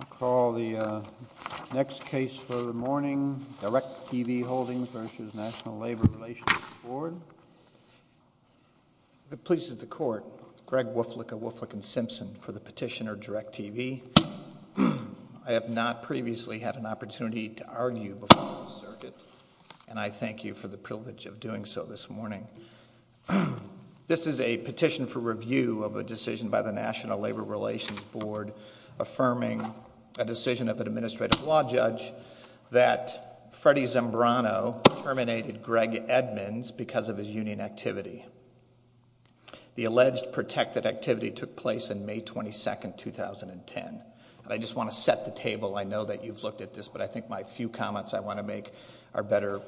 I call the next case for the morning, Direct TV Holdings v. National Labor Relations Board. It pleases the court, Greg Woflick of Woflick & Simpson, for the petitioner, Direct TV. I have not previously had an opportunity to argue before this circuit, and I thank you for the privilege of doing so this morning. This is a petition for review of a decision by the National Labor Relations Board affirming a decision of an administrative law judge that Freddy Zembrano terminated Greg Edmonds because of his union activity. The alleged protected activity took place on May 22, 2010, and I just want to set the table. I know that you've looked at this, but I think my few comments I want to make are better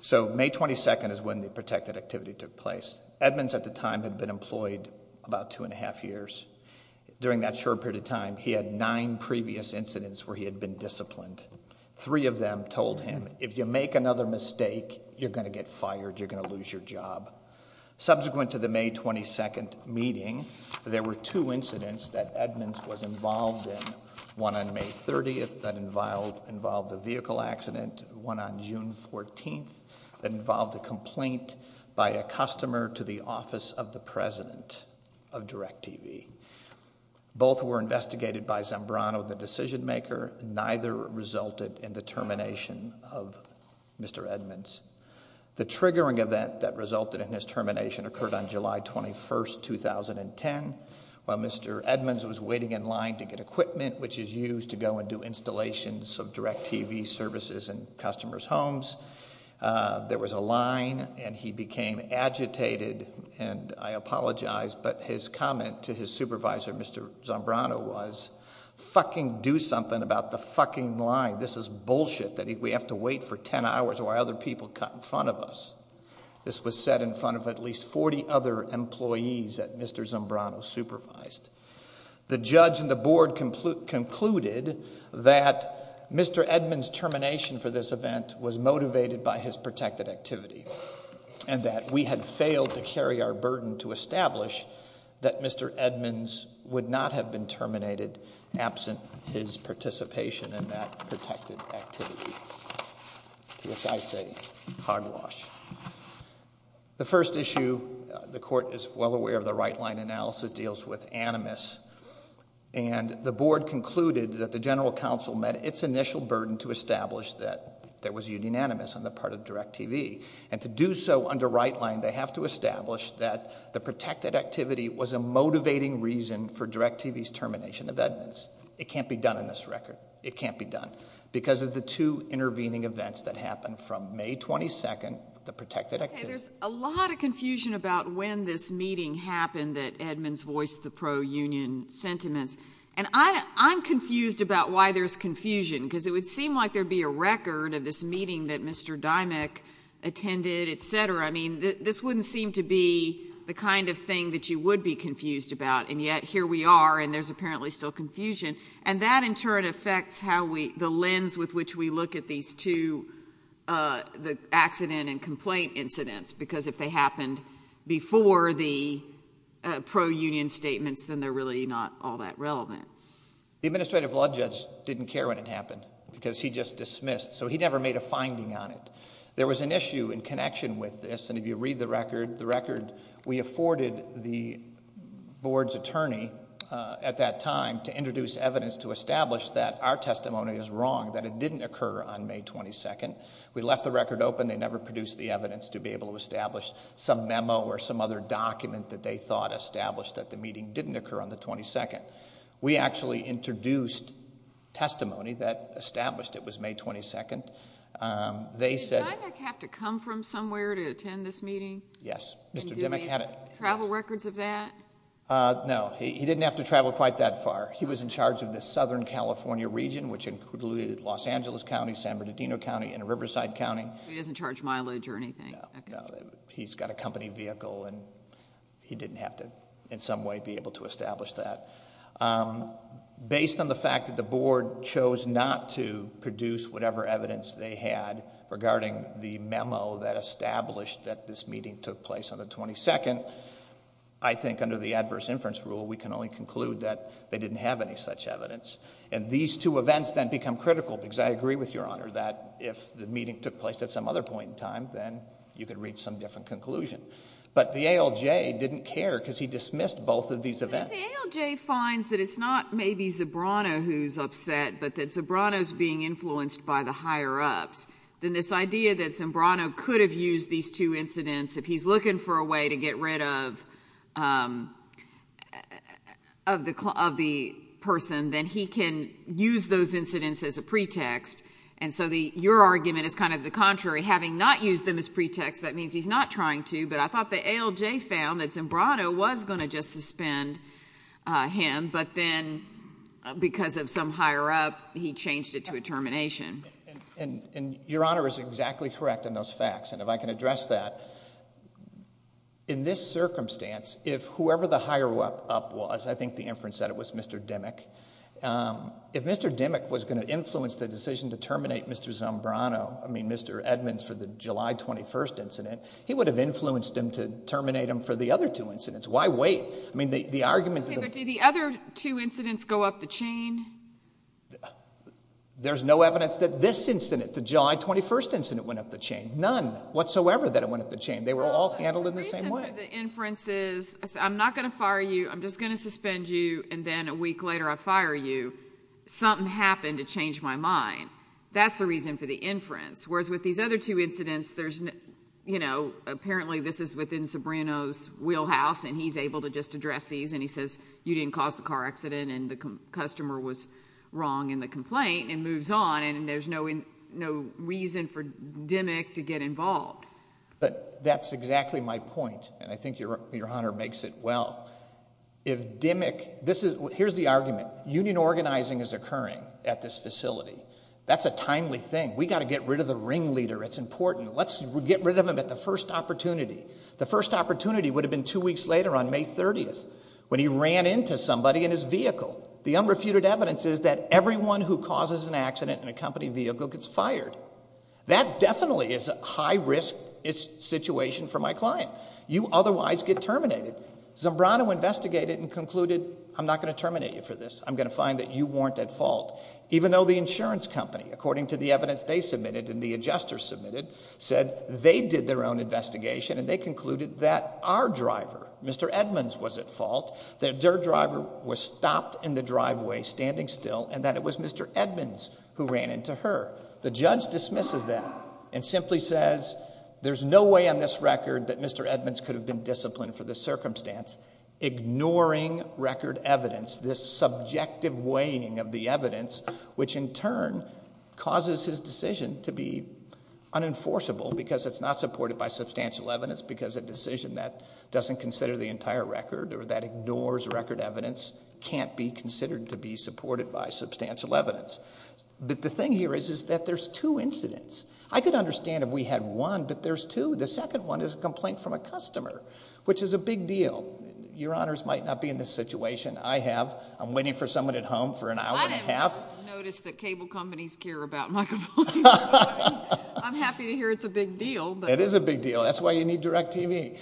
So May 22nd is when the protected activity took place. Edmonds at the time had been employed about two and a half years. During that short period of time, he had nine previous incidents where he had been disciplined. Three of them told him, if you make another mistake, you're going to get fired, you're going to lose your job. Subsequent to the May 22nd meeting, there were two incidents that Edmonds was involved in. One on May 30th that involved a vehicle accident, one on June 14th that involved a complaint by a customer to the office of the president of DirecTV. Both were investigated by Zembrano, the decision maker, and neither resulted in the termination of Mr. Edmonds. The triggering event that resulted in his termination occurred on July 21st, 2010, while Mr. Edmonds was waiting in line to get equipment, which is used to go and do installations of DirecTV services in customers' homes. There was a line, and he became agitated, and I apologize, but his comment to his supervisor, Mr. Zembrano, was, fucking do something about the fucking line. This is bullshit. We have to wait for ten hours while other people cut in front of us. This was said in front of at least 40 other employees that Mr. Zembrano supervised. The judge and the board concluded that Mr. Edmonds' termination for this event was motivated by his protected activity, and that we had failed to carry our burden to establish that Mr. Edmonds would not have been terminated absent his participation in that protected activity. To which I say, hogwash. The first issue, the court is well aware of the right-line analysis, deals with animus, and the board concluded that the general counsel met its initial burden to establish that there was unanimous on the part of DirecTV, and to do so under right-line, they have to establish that the protected activity was a motivating reason for DirecTV's termination of Edmonds. It can't be done in this record. It can't be done. Because of the two intervening events that happened from May 22nd, the protected activity Okay, there's a lot of confusion about when this meeting happened that Edmonds voiced the pro-union sentiments. And I'm confused about why there's confusion, because it would seem like there'd be a record of this meeting that Mr. Dymock attended, et cetera. I mean, this wouldn't seem to be the kind of thing that you would be confused about, and yet here we are, and there's apparently still confusion. And that, in turn, affects how we, the lens with which we look at these two, the accident and complaint incidents, because if they happened before the pro-union statements, then they're really not all that relevant. The administrative law judge didn't care when it happened, because he just dismissed, so he never made a finding on it. There was an issue in connection with this, and if you read the record, the record, we introduced evidence to establish that our testimony is wrong, that it didn't occur on May 22nd. We left the record open. They never produced the evidence to be able to establish some memo or some other document that they thought established that the meeting didn't occur on the 22nd. We actually introduced testimony that established it was May 22nd. They said- Did Dymock have to come from somewhere to attend this meeting? Yes, Mr. Dymock had a- And do they have travel records of that? No, he didn't have to travel quite that far. He was in charge of the Southern California region, which included Los Angeles County, San Bernardino County, and Riverside County. So he doesn't charge mileage or anything? No, no. He's got a company vehicle, and he didn't have to, in some way, be able to establish that. Based on the fact that the board chose not to produce whatever evidence they had regarding the memo that established that this meeting took place on the 22nd, I think under the circumstances, they didn't have any such evidence, and these two events then become critical because I agree with Your Honor that if the meeting took place at some other point in time, then you could reach some different conclusion. But the ALJ didn't care because he dismissed both of these events. But if the ALJ finds that it's not maybe Zabrano who's upset, but that Zabrano's being influenced by the higher-ups, then this idea that Zabrano could have used these two incidents if he's looking for a way to get rid of the person, then he can use those incidents as a pretext. And so your argument is kind of the contrary. Having not used them as pretext, that means he's not trying to, but I thought the ALJ found that Zabrano was going to just suspend him, but then because of some higher-up, he changed it to a termination. And Your Honor is exactly correct on those facts, and if I can address that. In this circumstance, if whoever the higher-up was, I think the inference said it was Mr. Dimmick, if Mr. Dimmick was going to influence the decision to terminate Mr. Zabrano, I mean Mr. Edmonds for the July 21st incident, he would have influenced him to terminate him for the other two incidents. Why wait? I mean the argument— Okay, but did the other two incidents go up the chain? There's no evidence that this incident, the July 21st incident, went up the chain, none whatsoever that it went up the chain. They were all handled in the same way. The reason for the inference is, I'm not going to fire you, I'm just going to suspend you, and then a week later I fire you. Something happened to change my mind. That's the reason for the inference. Whereas with these other two incidents, there's, you know, apparently this is within Zabrano's wheelhouse and he's able to just address these, and he says you didn't cause the car accident and the customer was wrong in the complaint, and moves on, and there's no reason for Dimmick to get involved. But that's exactly my point, and I think Your Honor makes it well. If Dimmick, this is, here's the argument. Union organizing is occurring at this facility. That's a timely thing. We've got to get rid of the ringleader. It's important. Let's get rid of him at the first opportunity. The first opportunity would have been two weeks later on May 30th when he ran into somebody in his vehicle. The unrefuted evidence is that everyone who causes an accident in a company vehicle gets fired. That definitely is a high-risk situation for my client. You otherwise get terminated. Zabrano investigated and concluded I'm not going to terminate you for this. I'm going to find that you weren't at fault, even though the insurance company, according to the evidence they submitted and the adjuster submitted, said they did their own investigation and they concluded that our driver, Mr. Edmonds, was at fault, that their driver was stopped in the driveway standing still, and that it was Mr. Edmonds who ran into her. The judge dismisses that and simply says there's no way on this record that Mr. Edmonds could have been disciplined for this circumstance, ignoring record evidence, this subjective weighing of the evidence, which in turn causes his decision to be unenforceable because it's not supported by substantial evidence, because a decision that doesn't consider the entire record evidence can't be considered to be supported by substantial evidence. But the thing here is that there's two incidents. I could understand if we had one, but there's two. The second one is a complaint from a customer, which is a big deal. Your honors might not be in this situation. I have. I'm waiting for someone at home for an hour and a half. I didn't notice that cable companies care about microphones. I'm happy to hear it's a big deal. It is a big deal. That's why you need DirecTV.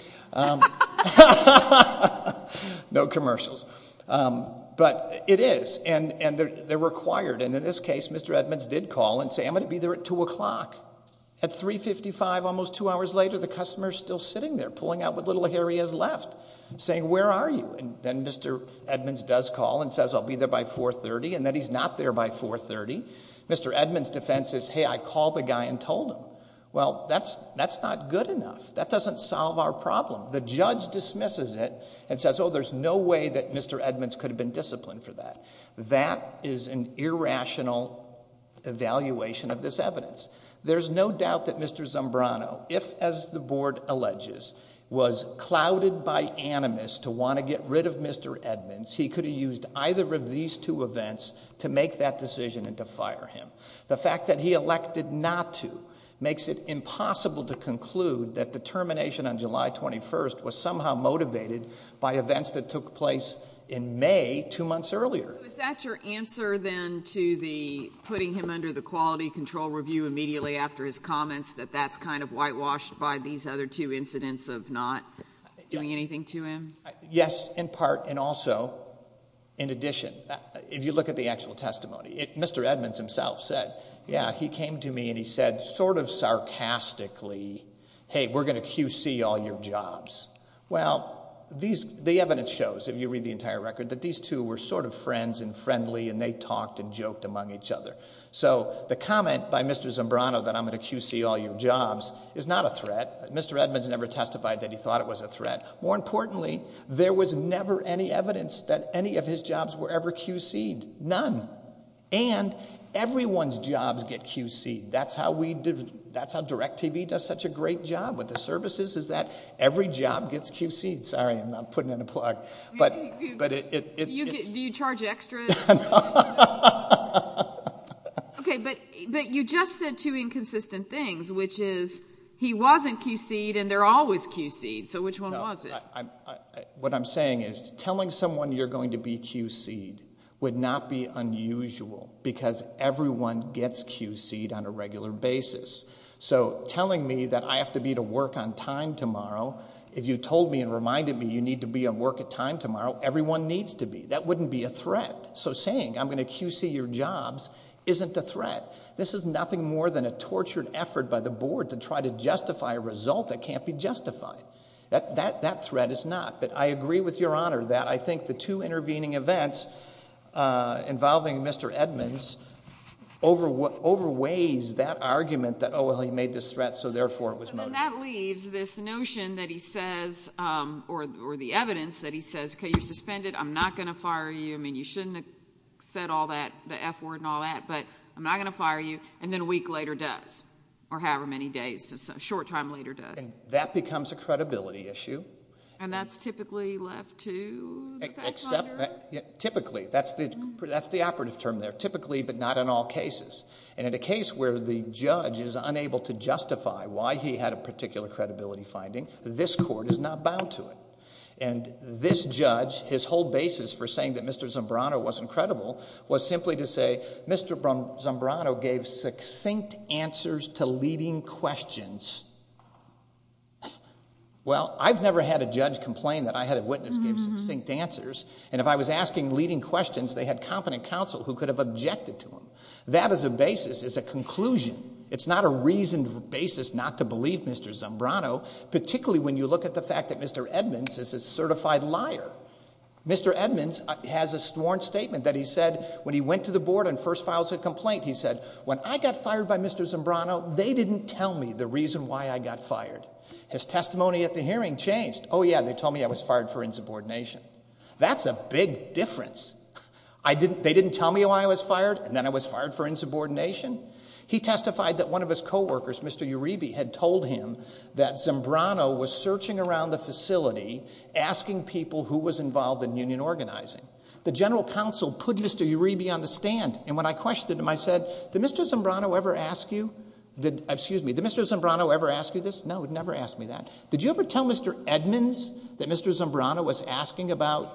No commercials. But it is, and they're required, and in this case, Mr. Edmonds did call and say, I'm going to be there at 2 o'clock. At 3.55, almost two hours later, the customer's still sitting there, pulling out what little hair he has left, saying, where are you? Then Mr. Edmonds does call and says, I'll be there by 4.30, and then he's not there by 4.30. Mr. Edmonds' defense is, hey, I called the guy and told him. Well, that's not good enough. That doesn't solve our problem. The judge dismisses it and says, oh, there's no way that Mr. Edmonds could have been disciplined for that. That is an irrational evaluation of this evidence. There's no doubt that Mr. Zombrano, if, as the board alleges, was clouded by animus to want to get rid of Mr. Edmonds, he could have used either of these two events to make that decision and to fire him. The fact that he elected not to makes it impossible to conclude that the termination on July 21st was somehow motivated by events that took place in May, two months earlier. So is that your answer, then, to the putting him under the quality control review immediately after his comments, that that's kind of whitewashed by these other two incidents of not doing anything to him? Yes, in part, and also, in addition, if you look at the actual testimony. Mr. Edmonds himself said, yeah, he came to me and he said sort of sarcastically, hey, we're going to QC all your jobs. Well, the evidence shows, if you read the entire record, that these two were sort of friends and friendly and they talked and joked among each other. So the comment by Mr. Zombrano that I'm going to QC all your jobs is not a threat. Mr. Edmonds never testified that he thought it was a threat. More importantly, there was never any evidence that any of his jobs were ever QC'd. None. And everyone's jobs get QC'd. That's how we do it. That's how DirecTV does such a great job with the services, is that every job gets QC'd. Sorry, I'm not putting in a plug. But it... Do you charge extra? No. Okay, but you just said two inconsistent things, which is he wasn't QC'd and they're always QC'd. So which one was it? What I'm saying is telling someone you're going to be QC'd would not be unusual because everyone gets QC'd on a regular basis. So telling me that I have to be to work on time tomorrow, if you told me and reminded me you need to be at work on time tomorrow, everyone needs to be. That wouldn't be a threat. So saying I'm going to QC your jobs isn't a threat. This is nothing more than a tortured effort by the board to try to justify a result that can't be justified. That threat is not, but I agree with Your Honor that I think the two intervening events involving Mr. Edmonds overweighs that argument that, oh, well, he made this threat so therefore it was motive. And that leaves this notion that he says, or the evidence that he says, okay, you're suspended, I'm not going to fire you. I mean, you shouldn't have said all that, the F word and all that, but I'm not going to fire you. And then a week later does, or however many days, a short time later does. And that becomes a credibility issue. And that's typically left to the fact finder? Typically. That's the operative term there, typically but not in all cases. And in a case where the judge is unable to justify why he had a particular credibility finding, this court is not bound to it. And this judge, his whole basis for saying that Mr. Zambrano wasn't credible was simply to say Mr. Zambrano gave succinct answers to leading questions. Well, I've never had a judge complain that I had a witness give succinct answers. And if I was asking leading questions, they had competent counsel who could have objected to them. That as a basis is a conclusion. It's not a reasoned basis not to believe Mr. Zambrano, particularly when you look at the fact that Mr. Edmonds is a certified liar. Mr. Edmonds has a sworn statement that he said when he went to the board and first files a complaint, he said, when I got fired by Mr. Zambrano, they didn't tell me the reason why I got fired. His testimony at the hearing changed. Oh, yeah, they told me I was fired for insubordination. That's a big difference. They didn't tell me why I was fired, and then I was fired for insubordination? He testified that one of his coworkers, Mr. Uribe, had told him that Zambrano was searching around the facility, asking people who was involved in union organizing. The general counsel put Mr. Uribe on the stand, and when I questioned him, I said, did Mr. Zambrano ever ask you? Excuse me, did Mr. Zambrano ever ask you this? No, he never asked me that. Did you ever tell Mr. Edmonds that Mr. Zambrano was asking about,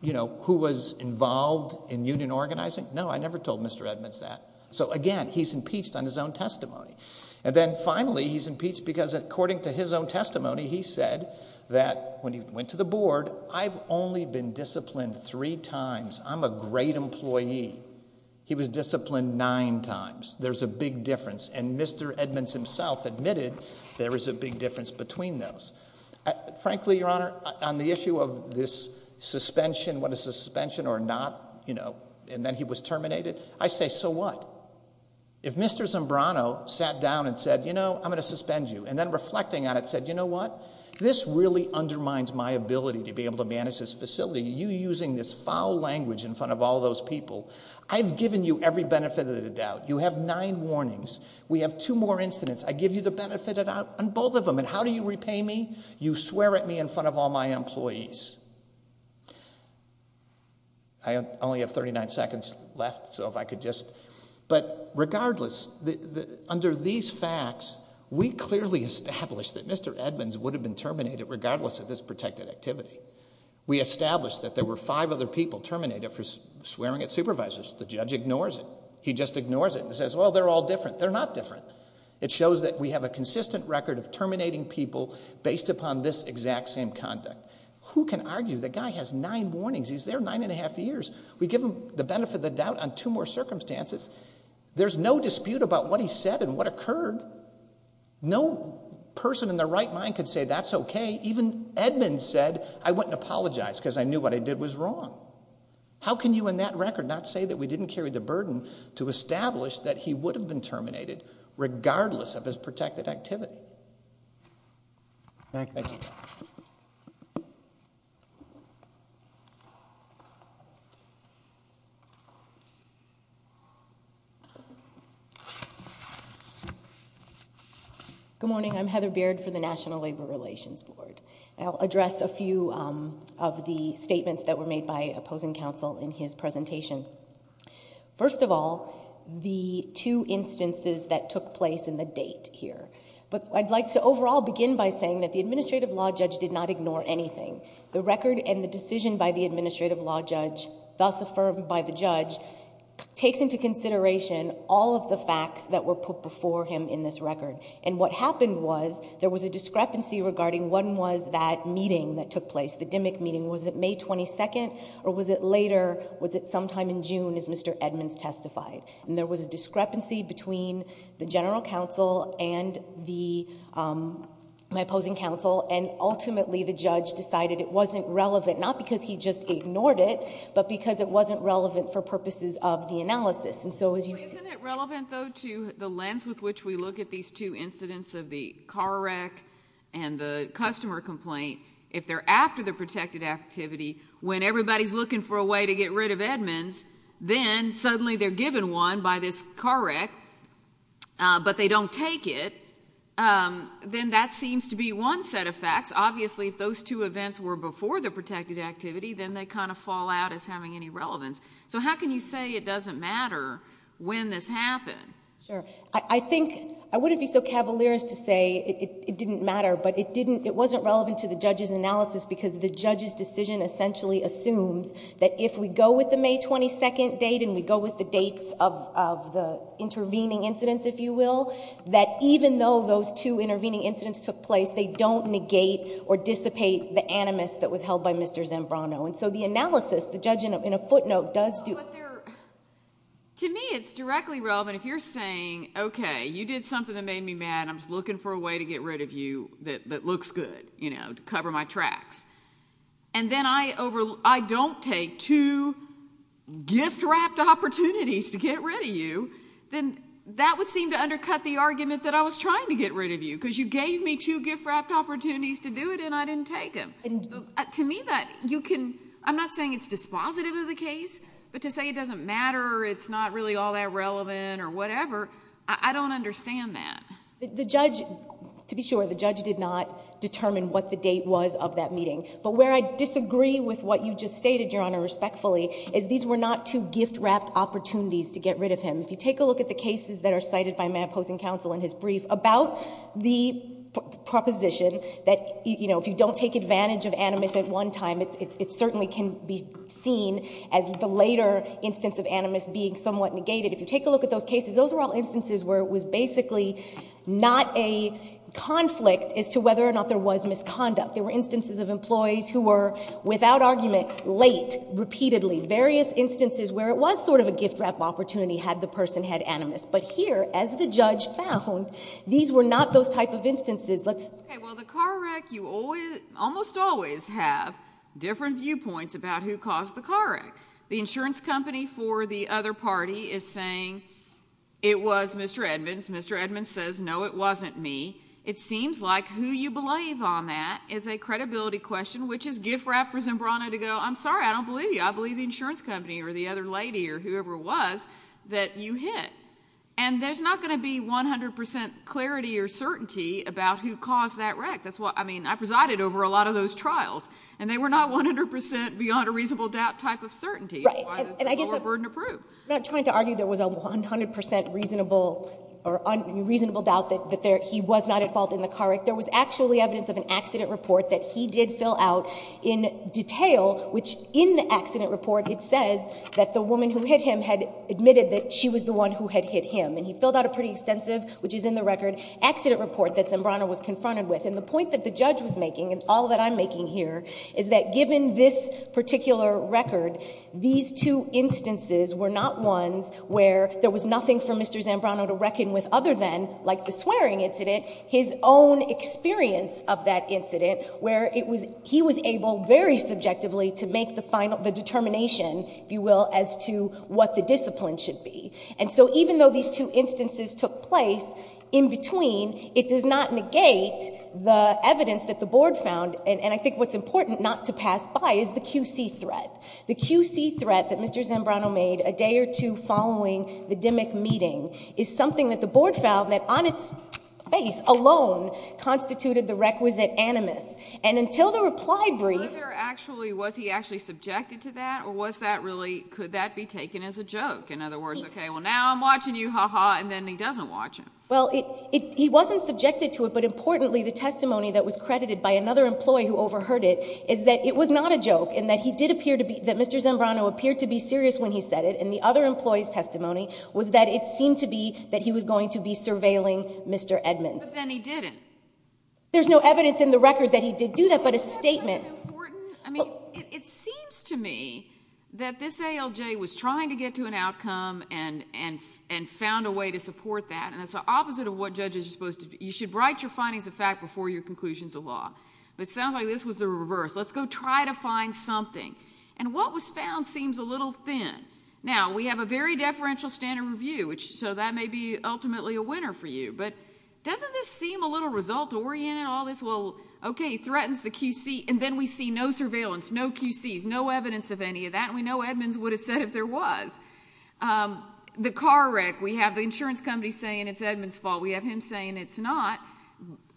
you know, who was involved in union organizing? No, I never told Mr. Edmonds that. So again, he's impeached on his own testimony. And then finally, he's impeached because according to his own testimony, he said that when he went to the board, I've only been disciplined three times. I'm a great employee. He was disciplined nine times. There's a big difference, and Mr. Edmonds himself admitted there is a big difference between those. Frankly, Your Honor, on the issue of this suspension, what is suspension or not, you know, and then he was terminated, I say, so what? If Mr. Zambrano sat down and said, you know, I'm going to suspend you, and then reflecting on it said, you know what? This really undermines my ability to be able to manage this facility. You using this foul language in front of all those people. I've given you every benefit of the doubt. You have nine warnings. We have two more incidents. I give you the benefit of the doubt on both of them. And how do you repay me? You swear at me in front of all my employees. I only have thirty-nine seconds left, so if I could just... But regardless, under these facts, we clearly established that Mr. Edmonds would have been terminated regardless of this protected activity. We established that there were five other people terminated for swearing at supervisors. The judge ignores it. He just ignores it and says, well, they're all different. They're not different. It shows that we have a consistent record of terminating people based upon this exact same conduct. Who can argue the guy has nine warnings? He's there nine and a half years. We give him the benefit of the doubt on two more circumstances. There's no dispute about what he said and what occurred. No person in their right mind could say, that's okay. Even Edmonds said, I wouldn't apologize because I knew what I did was wrong. How can you in that record not say that we didn't carry the burden to establish that he would have been terminated regardless of his protected activity? Thank you. Good morning. I'm Heather Beard for the National Labor Relations Board. I'll address a few of the statements that were made by opposing counsel in his presentation. First of all, the two instances that took place in the date here. I'd like to overall begin by saying that the Administrative Law Judge did not ignore anything. The record and the decision by the Administrative Law Judge, thus affirmed by the judge, takes into consideration all of the facts that were put before him in this record. What happened was, there was a discrepancy regarding when was that meeting that took place, the DMIC meeting. Was it May 22nd or was it later? Was it sometime in June as Mr. Edmonds testified? There was a discrepancy between the general counsel and my opposing counsel, and ultimately, the judge decided it wasn't relevant, not because he just ignored it, but because it wasn't relevant for purposes of the analysis. Isn't it relevant though to the lens with which we look at these two incidents of the car wreck and the customer complaint? If they're after the protected activity, when everybody's looking for a way to get rid of Edmonds, then suddenly they're given one by this car wreck, but they don't take it, then that seems to be one set of facts. Obviously, if those two events were before the protected activity, then they fall out as having any relevance. How can you say it doesn't matter when this happened? I wouldn't be so cavalier as to say it didn't matter, but it wasn't relevant to the judge's that if we go with the May 22nd date and we go with the dates of the intervening incidents, if you will, that even though those two intervening incidents took place, they don't negate or dissipate the animus that was held by Mr. Zambrano. The analysis, the judge, in a footnote, does do... To me, it's directly relevant if you're saying, okay, you did something that made me mad, I'm just looking for a way to get rid of you that looks good, to cover my tracks. Then I don't take two gift-wrapped opportunities to get rid of you, then that would seem to undercut the argument that I was trying to get rid of you because you gave me two gift-wrapped opportunities to do it and I didn't take them. To me, I'm not saying it's dispositive of the case, but to say it doesn't matter, it's not really all that relevant or whatever, I don't understand that. The judge, to be sure, the judge did not determine what the date was of that meeting. But where I disagree with what you just stated, Your Honor, respectfully, is these were not two gift-wrapped opportunities to get rid of him. If you take a look at the cases that are cited by my opposing counsel in his brief about the proposition that if you don't take advantage of animus at one time, it certainly can be seen as the later instance of animus being somewhat negated. If you take a look at those cases, those were all instances where it was basically not a conflict as to whether or not there was misconduct. There were instances of employees who were, without argument, late, repeatedly. Various instances where it was sort of a gift-wrapped opportunity had the person had animus. But here, as the judge found, these were not those type of instances. Let's... Okay. Well, the car wreck, you almost always have different viewpoints about who caused the car wreck. The insurance company for the other party is saying, it was Mr. Edmonds. Mr. Edmonds says, no, it wasn't me. It seems like who you believe on that is a credibility question, which is gift-wrapped for Zimbrano to go, I'm sorry, I don't believe you. I believe the insurance company or the other lady or whoever it was that you hit. And there's not going to be 100 percent clarity or certainty about who caused that wreck. That's why... I mean, I presided over a lot of those trials. And they were not 100 percent beyond a reasonable doubt type of certainty. Right. And I guess... That's why it's lower burden approved. I'm not trying to argue there was a 100 percent reasonable or unreasonable doubt that he was not at fault in the car wreck. There was actually evidence of an accident report that he did fill out in detail, which in the accident report, it says that the woman who hit him had admitted that she was the one who had hit him. And he filled out a pretty extensive, which is in the record, accident report that Zimbrano was confronted with. And the point that the judge was making, and all that I'm making here, is that given this particular record, these two instances were not ones where there was nothing for Mr. Zimbrano to reckon with other than, like the swearing incident, his own experience of that incident where he was able very subjectively to make the determination, if you will, as to what the discipline should be. And so even though these two instances took place in between, it does not negate the evidence that the Board found. And I think what's important not to pass by is the QC threat. The QC threat that Mr. Zimbrano made a day or two following the DMIC meeting is something that the Board found that on its face alone constituted the requisite animus. And until the reply brief... Was there actually... was he actually subjected to that, or was that really... could that be taken as a joke? In other words, okay, well, now I'm watching you, ha-ha, and then he doesn't watch him. Well, he wasn't subjected to it, but importantly, the testimony that was credited by another employee who overheard it is that it was not a joke, and that he did appear to be... that Mr. Zimbrano appeared to be serious when he said it, and the other employee's testimony was that it seemed to be that he was going to be surveilling Mr. Edmonds. But then he didn't. There's no evidence in the record that he did do that, but a statement... Isn't that important? I mean, it seems to me that this ALJ was trying to get to an outcome and found a way to support that, and that's the opposite of what judges are supposed to... you should write your findings of fact before your conclusions of law, but it sounds like this was the reverse. Let's go try to find something. And what was found seems a little thin. Now, we have a very deferential standard review, so that may be ultimately a winner for you, but doesn't this seem a little result-oriented, all this, well, okay, he threatens the QC, and then we see no surveillance, no QCs, no evidence of any of that, and we know Edmonds would have said if there was. The car wreck, we have the insurance company saying it's Edmonds' fault. We have him saying it's not,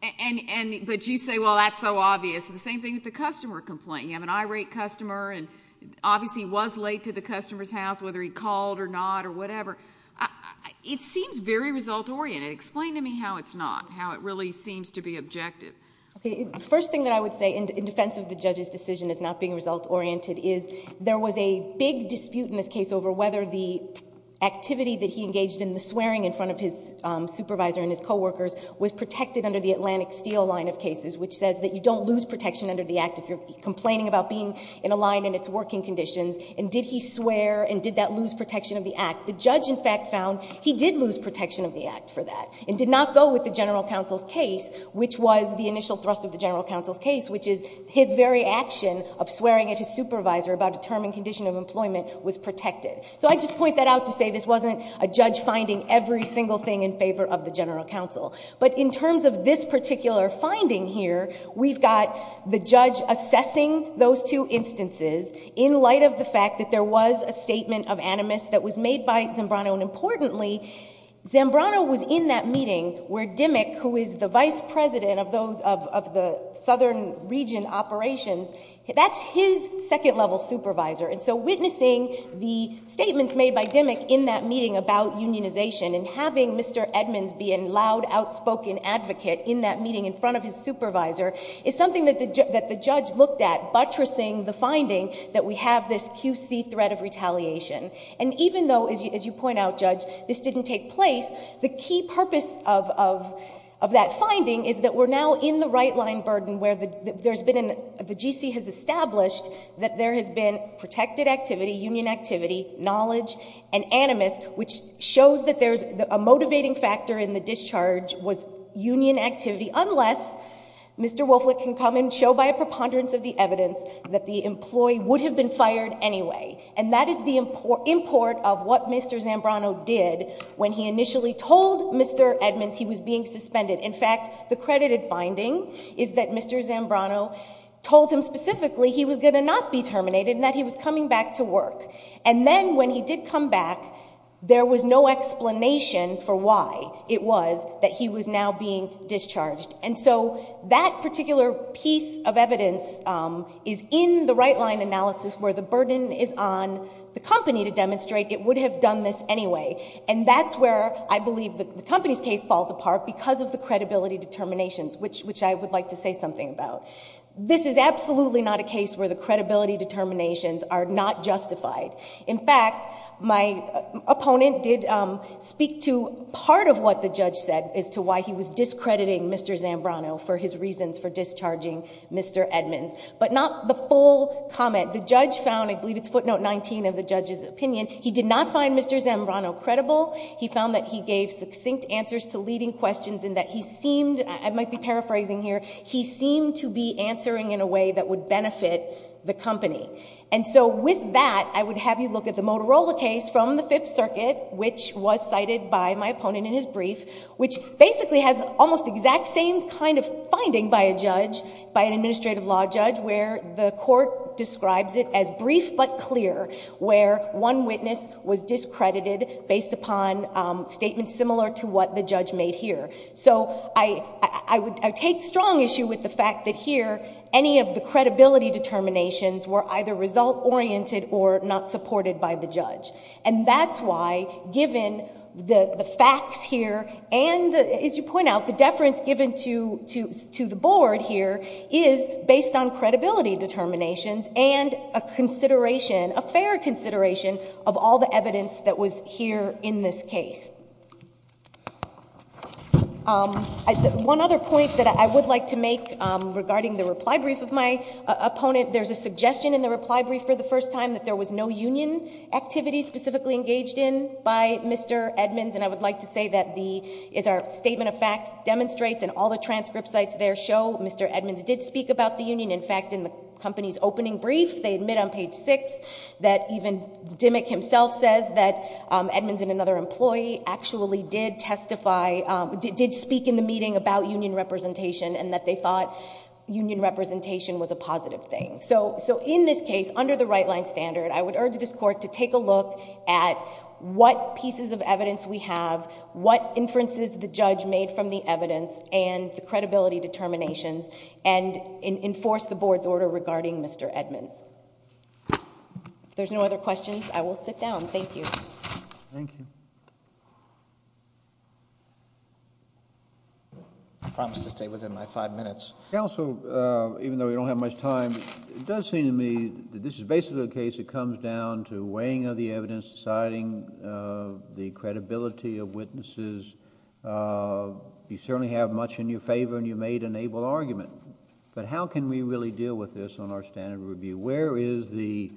but you say, well, that's so obvious, and the same thing with the customer complaint. You have an irate customer, and obviously he was late to the customer's house, whether he called or not or whatever. It seems very result-oriented. Explain to me how it's not, how it really seems to be objective. Okay, the first thing that I would say in defense of the judge's decision as not being result-oriented is there was a big dispute in this case over whether the activity that he engaged in, the swearing in front of his supervisor and his coworkers, was protected under the Atlantic Steel line of cases, which says that you don't lose protection under the act if you're complaining about being in a line and its working conditions, and did he swear, and did that lose protection of the act? The judge, in fact, found he did lose protection of the act for that, and did not go with the initial thrust of the general counsel's case, which is his very action of swearing at his supervisor about a term and condition of employment was protected. So I just point that out to say this wasn't a judge finding every single thing in favor of the general counsel, but in terms of this particular finding here, we've got the judge assessing those two instances in light of the fact that there was a statement of animus that was made by Zambrano, and importantly, Zambrano was in that meeting where Dimmick, who is the vice president of the southern region operations, that's his second level supervisor, and so witnessing the statements made by Dimmick in that meeting about unionization and having Mr. Edmonds be a loud, outspoken advocate in that meeting in front of his supervisor is something that the judge looked at, buttressing the finding that we have this QC threat of retaliation, and even though, as you point out, Judge, this didn't take place, the key purpose of that finding is that we're now in the right-line burden where the GC has established that there has been protected activity, union activity, knowledge, and animus, which shows that a motivating factor in the discharge was union activity, unless Mr. Wolflick can come and show by a preponderance of the evidence that the employee would have been fired anyway, and that is the import of what Mr. Zambrano did when he initially told Mr. Edmonds he was being suspended. In fact, the credited finding is that Mr. Zambrano told him specifically he was going to not be terminated and that he was coming back to work, and then when he did come back, there was no explanation for why it was that he was now being discharged, and so that particular piece of evidence is in the right-line analysis where the burden is on the company to demonstrate it would have done this anyway, and that's where I believe the company's case falls apart because of the credibility determinations, which I would like to say something about. This is absolutely not a case where the credibility determinations are not justified. In fact, my opponent did speak to part of what the judge said as to why he was discrediting Mr. Zambrano for his reasons for discharging Mr. Edmonds, but not the full comment. The judge found, I believe it's footnote 19 of the judge's found that he gave succinct answers to leading questions and that he seemed, I might be paraphrasing here, he seemed to be answering in a way that would benefit the company, and so with that, I would have you look at the Motorola case from the Fifth Circuit, which was cited by my opponent in his brief, which basically has almost the exact same kind of finding by a judge, by an administrative law judge, where the court describes it as brief but clear, where one witness was discredited based upon statements similar to what the judge made here. So I take strong issue with the fact that here, any of the credibility determinations were either result-oriented or not supported by the judge, and that's why, given the facts here and, as you point out, the deference given to the board here is based on credibility determinations and a consideration, a fair consideration of all the evidence that was here in this case. One other point that I would like to make regarding the reply brief of my opponent, there's a suggestion in the reply brief for the first time that there was no union activity specifically engaged in by Mr. Edmonds, and I would like to say that the, as our statement of facts demonstrates and all the transcript sites there show, Mr. Edmonds did speak about the union. In fact, in the company's opening brief, they admit on page 6 that even Dimmick himself says that Edmonds and another employee actually did testify, did speak in the meeting about union representation and that they thought union representation was a positive thing. So in this case, under the right-line standard, I would urge this court to take a look at what pieces of evidence we have, what inferences the judge made from the evidence and the credibility determinations, and enforce the board's order regarding Mr. Edmonds. If there's no other questions, I will sit down. Thank you. Thank you. I promise to stay within my five minutes. Counsel, even though we don't have much time, it does seem to me that this is basically a case that comes down to weighing of the evidence, deciding the credibility of witnesses. You certainly have much in your favor and you made an able argument, but how can we really deal with this on our standard review? Where is the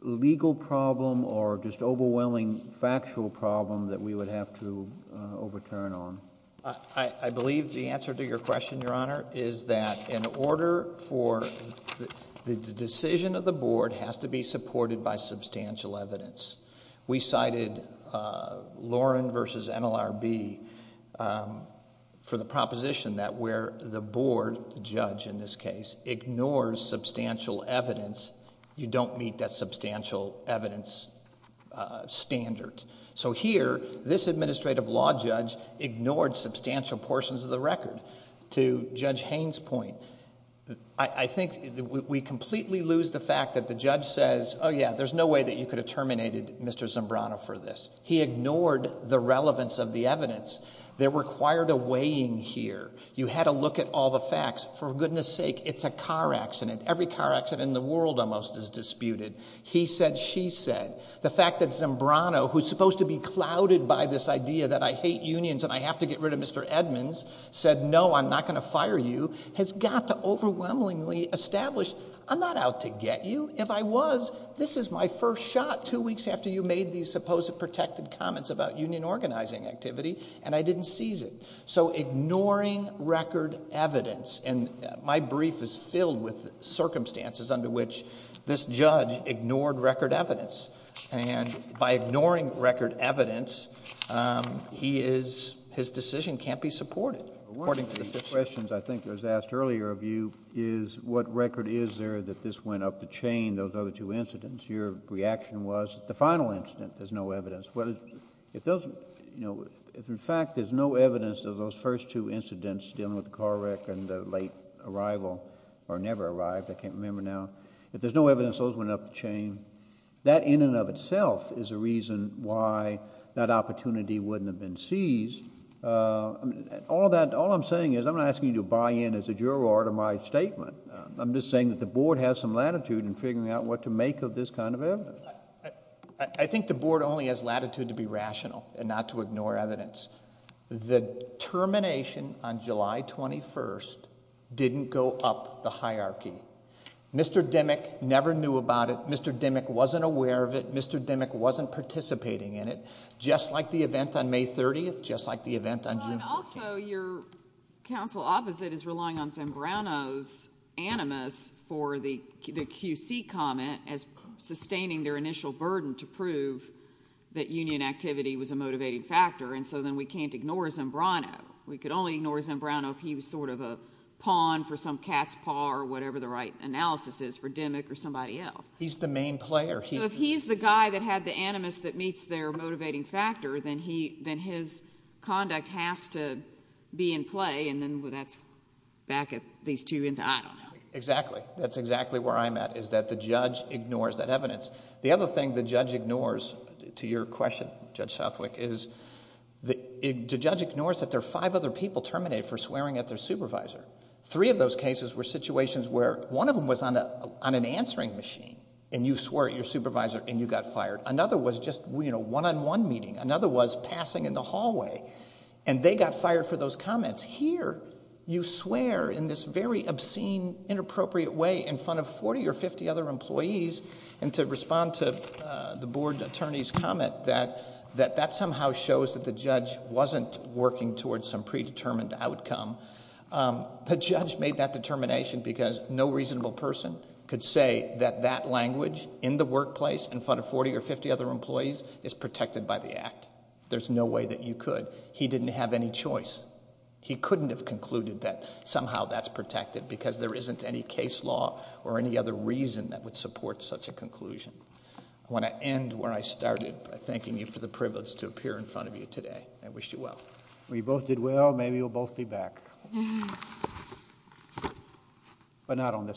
legal problem or just overwhelming factual problem that we would have to overturn on? I believe the answer to your question, Your Honor, is that in order for the decision of the board has to be supported by substantial evidence. We cited Lauren v. NLRB for the proposition that where the board, the judge in this case, ignores substantial evidence, you don't meet that substantial evidence standard. Here, this administrative law judge ignored substantial portions of the record. To Judge Haines' point, I think we completely lose the fact that the judge says, oh yeah, there's no way that you could have terminated Mr. Zimbrano for this. He ignored the relevance of the evidence. There required a weighing here. You had to look at all the facts. For goodness sake, it's a car accident. Every car accident in the world almost is disputed. He said, she said. The fact that Zimbrano, who's supposed to be clouded by this idea that I hate unions and I have to get rid of Mr. Edmonds, said, no, I'm not going to fire you, has got to overwhelmingly establish, I'm not out to get you. If I was, this is my first shot two weeks after you made these supposed protected comments about union organizing activity, and I didn't seize it. So, ignoring record evidence, and my brief is filled with circumstances under which this judge ignored record evidence. By ignoring record evidence, he is, his decision can't be supported, according to the...... One of the questions I think was asked earlier of you is what record is there that this went up the chain, those other two incidents? Your reaction was, the final incident, there's no evidence. If in fact, there's no evidence of those first two incidents dealing with the car wreck and the late arrival, or never arrived, I can't remember now, if there's no evidence those went up the chain, that in and of itself is a reason why that opportunity wouldn't have been seized. All that, all I'm saying is, I'm not asking you to buy in as a juror to my statement. I'm just saying that the board has some latitude in figuring out what to make of this kind of evidence. I think the board only has latitude to be rational and not to ignore evidence. The termination on July 21st didn't go up the hierarchy. Mr. Dimmick never knew about it. Mr. Dimmick wasn't aware of it. Mr. Dimmick wasn't participating in it. Just like the event on May 30th, just like the event on June 15th. Also, your counsel opposite is relying on Zambrano's animus for the QC comment as sustaining their initial burden to prove that union activity was a motivated factor. Then, we can't ignore Zambrano. We could only ignore Zambrano if he was a pawn for some cat's paw or whatever the right analysis is for Dimmick or somebody else..... He's the main player..... If he's the guy that had the animus that meets their motivating factor, then his conduct has to be in play and then that's back at these two... I don't know... Exactly. That's exactly where I'm at, is that the judge ignores that evidence. The other thing the judge ignores, to your question, Judge Southwick, is the judge ignores that there are five other people terminated for swearing at their supervisor. Three of those cases were situations where one of them was on an answering machine and you swore at your supervisor and you got fired. Another was just one-on-one meeting. Another was passing in the hallway and they got fired for those comments. Here, you swear in this very obscene, inappropriate way in front of forty or fifty other employees and to respond to the board attorney's comment that that somehow shows that the judge wasn't working towards some predetermined outcome, the judge made that determination because no reasonable person could say that that language in the workplace in front of forty or fifty other employees is protected by the Act. There's no way that you could. He didn't have any choice. He couldn't have concluded that somehow that's protected because there isn't any case law or any other reason that would support such a conclusion. I want to end where I started by thanking you for the privilege to appear in front of you today. I wish you well. We both did well. Maybe we'll both be back. But not on this.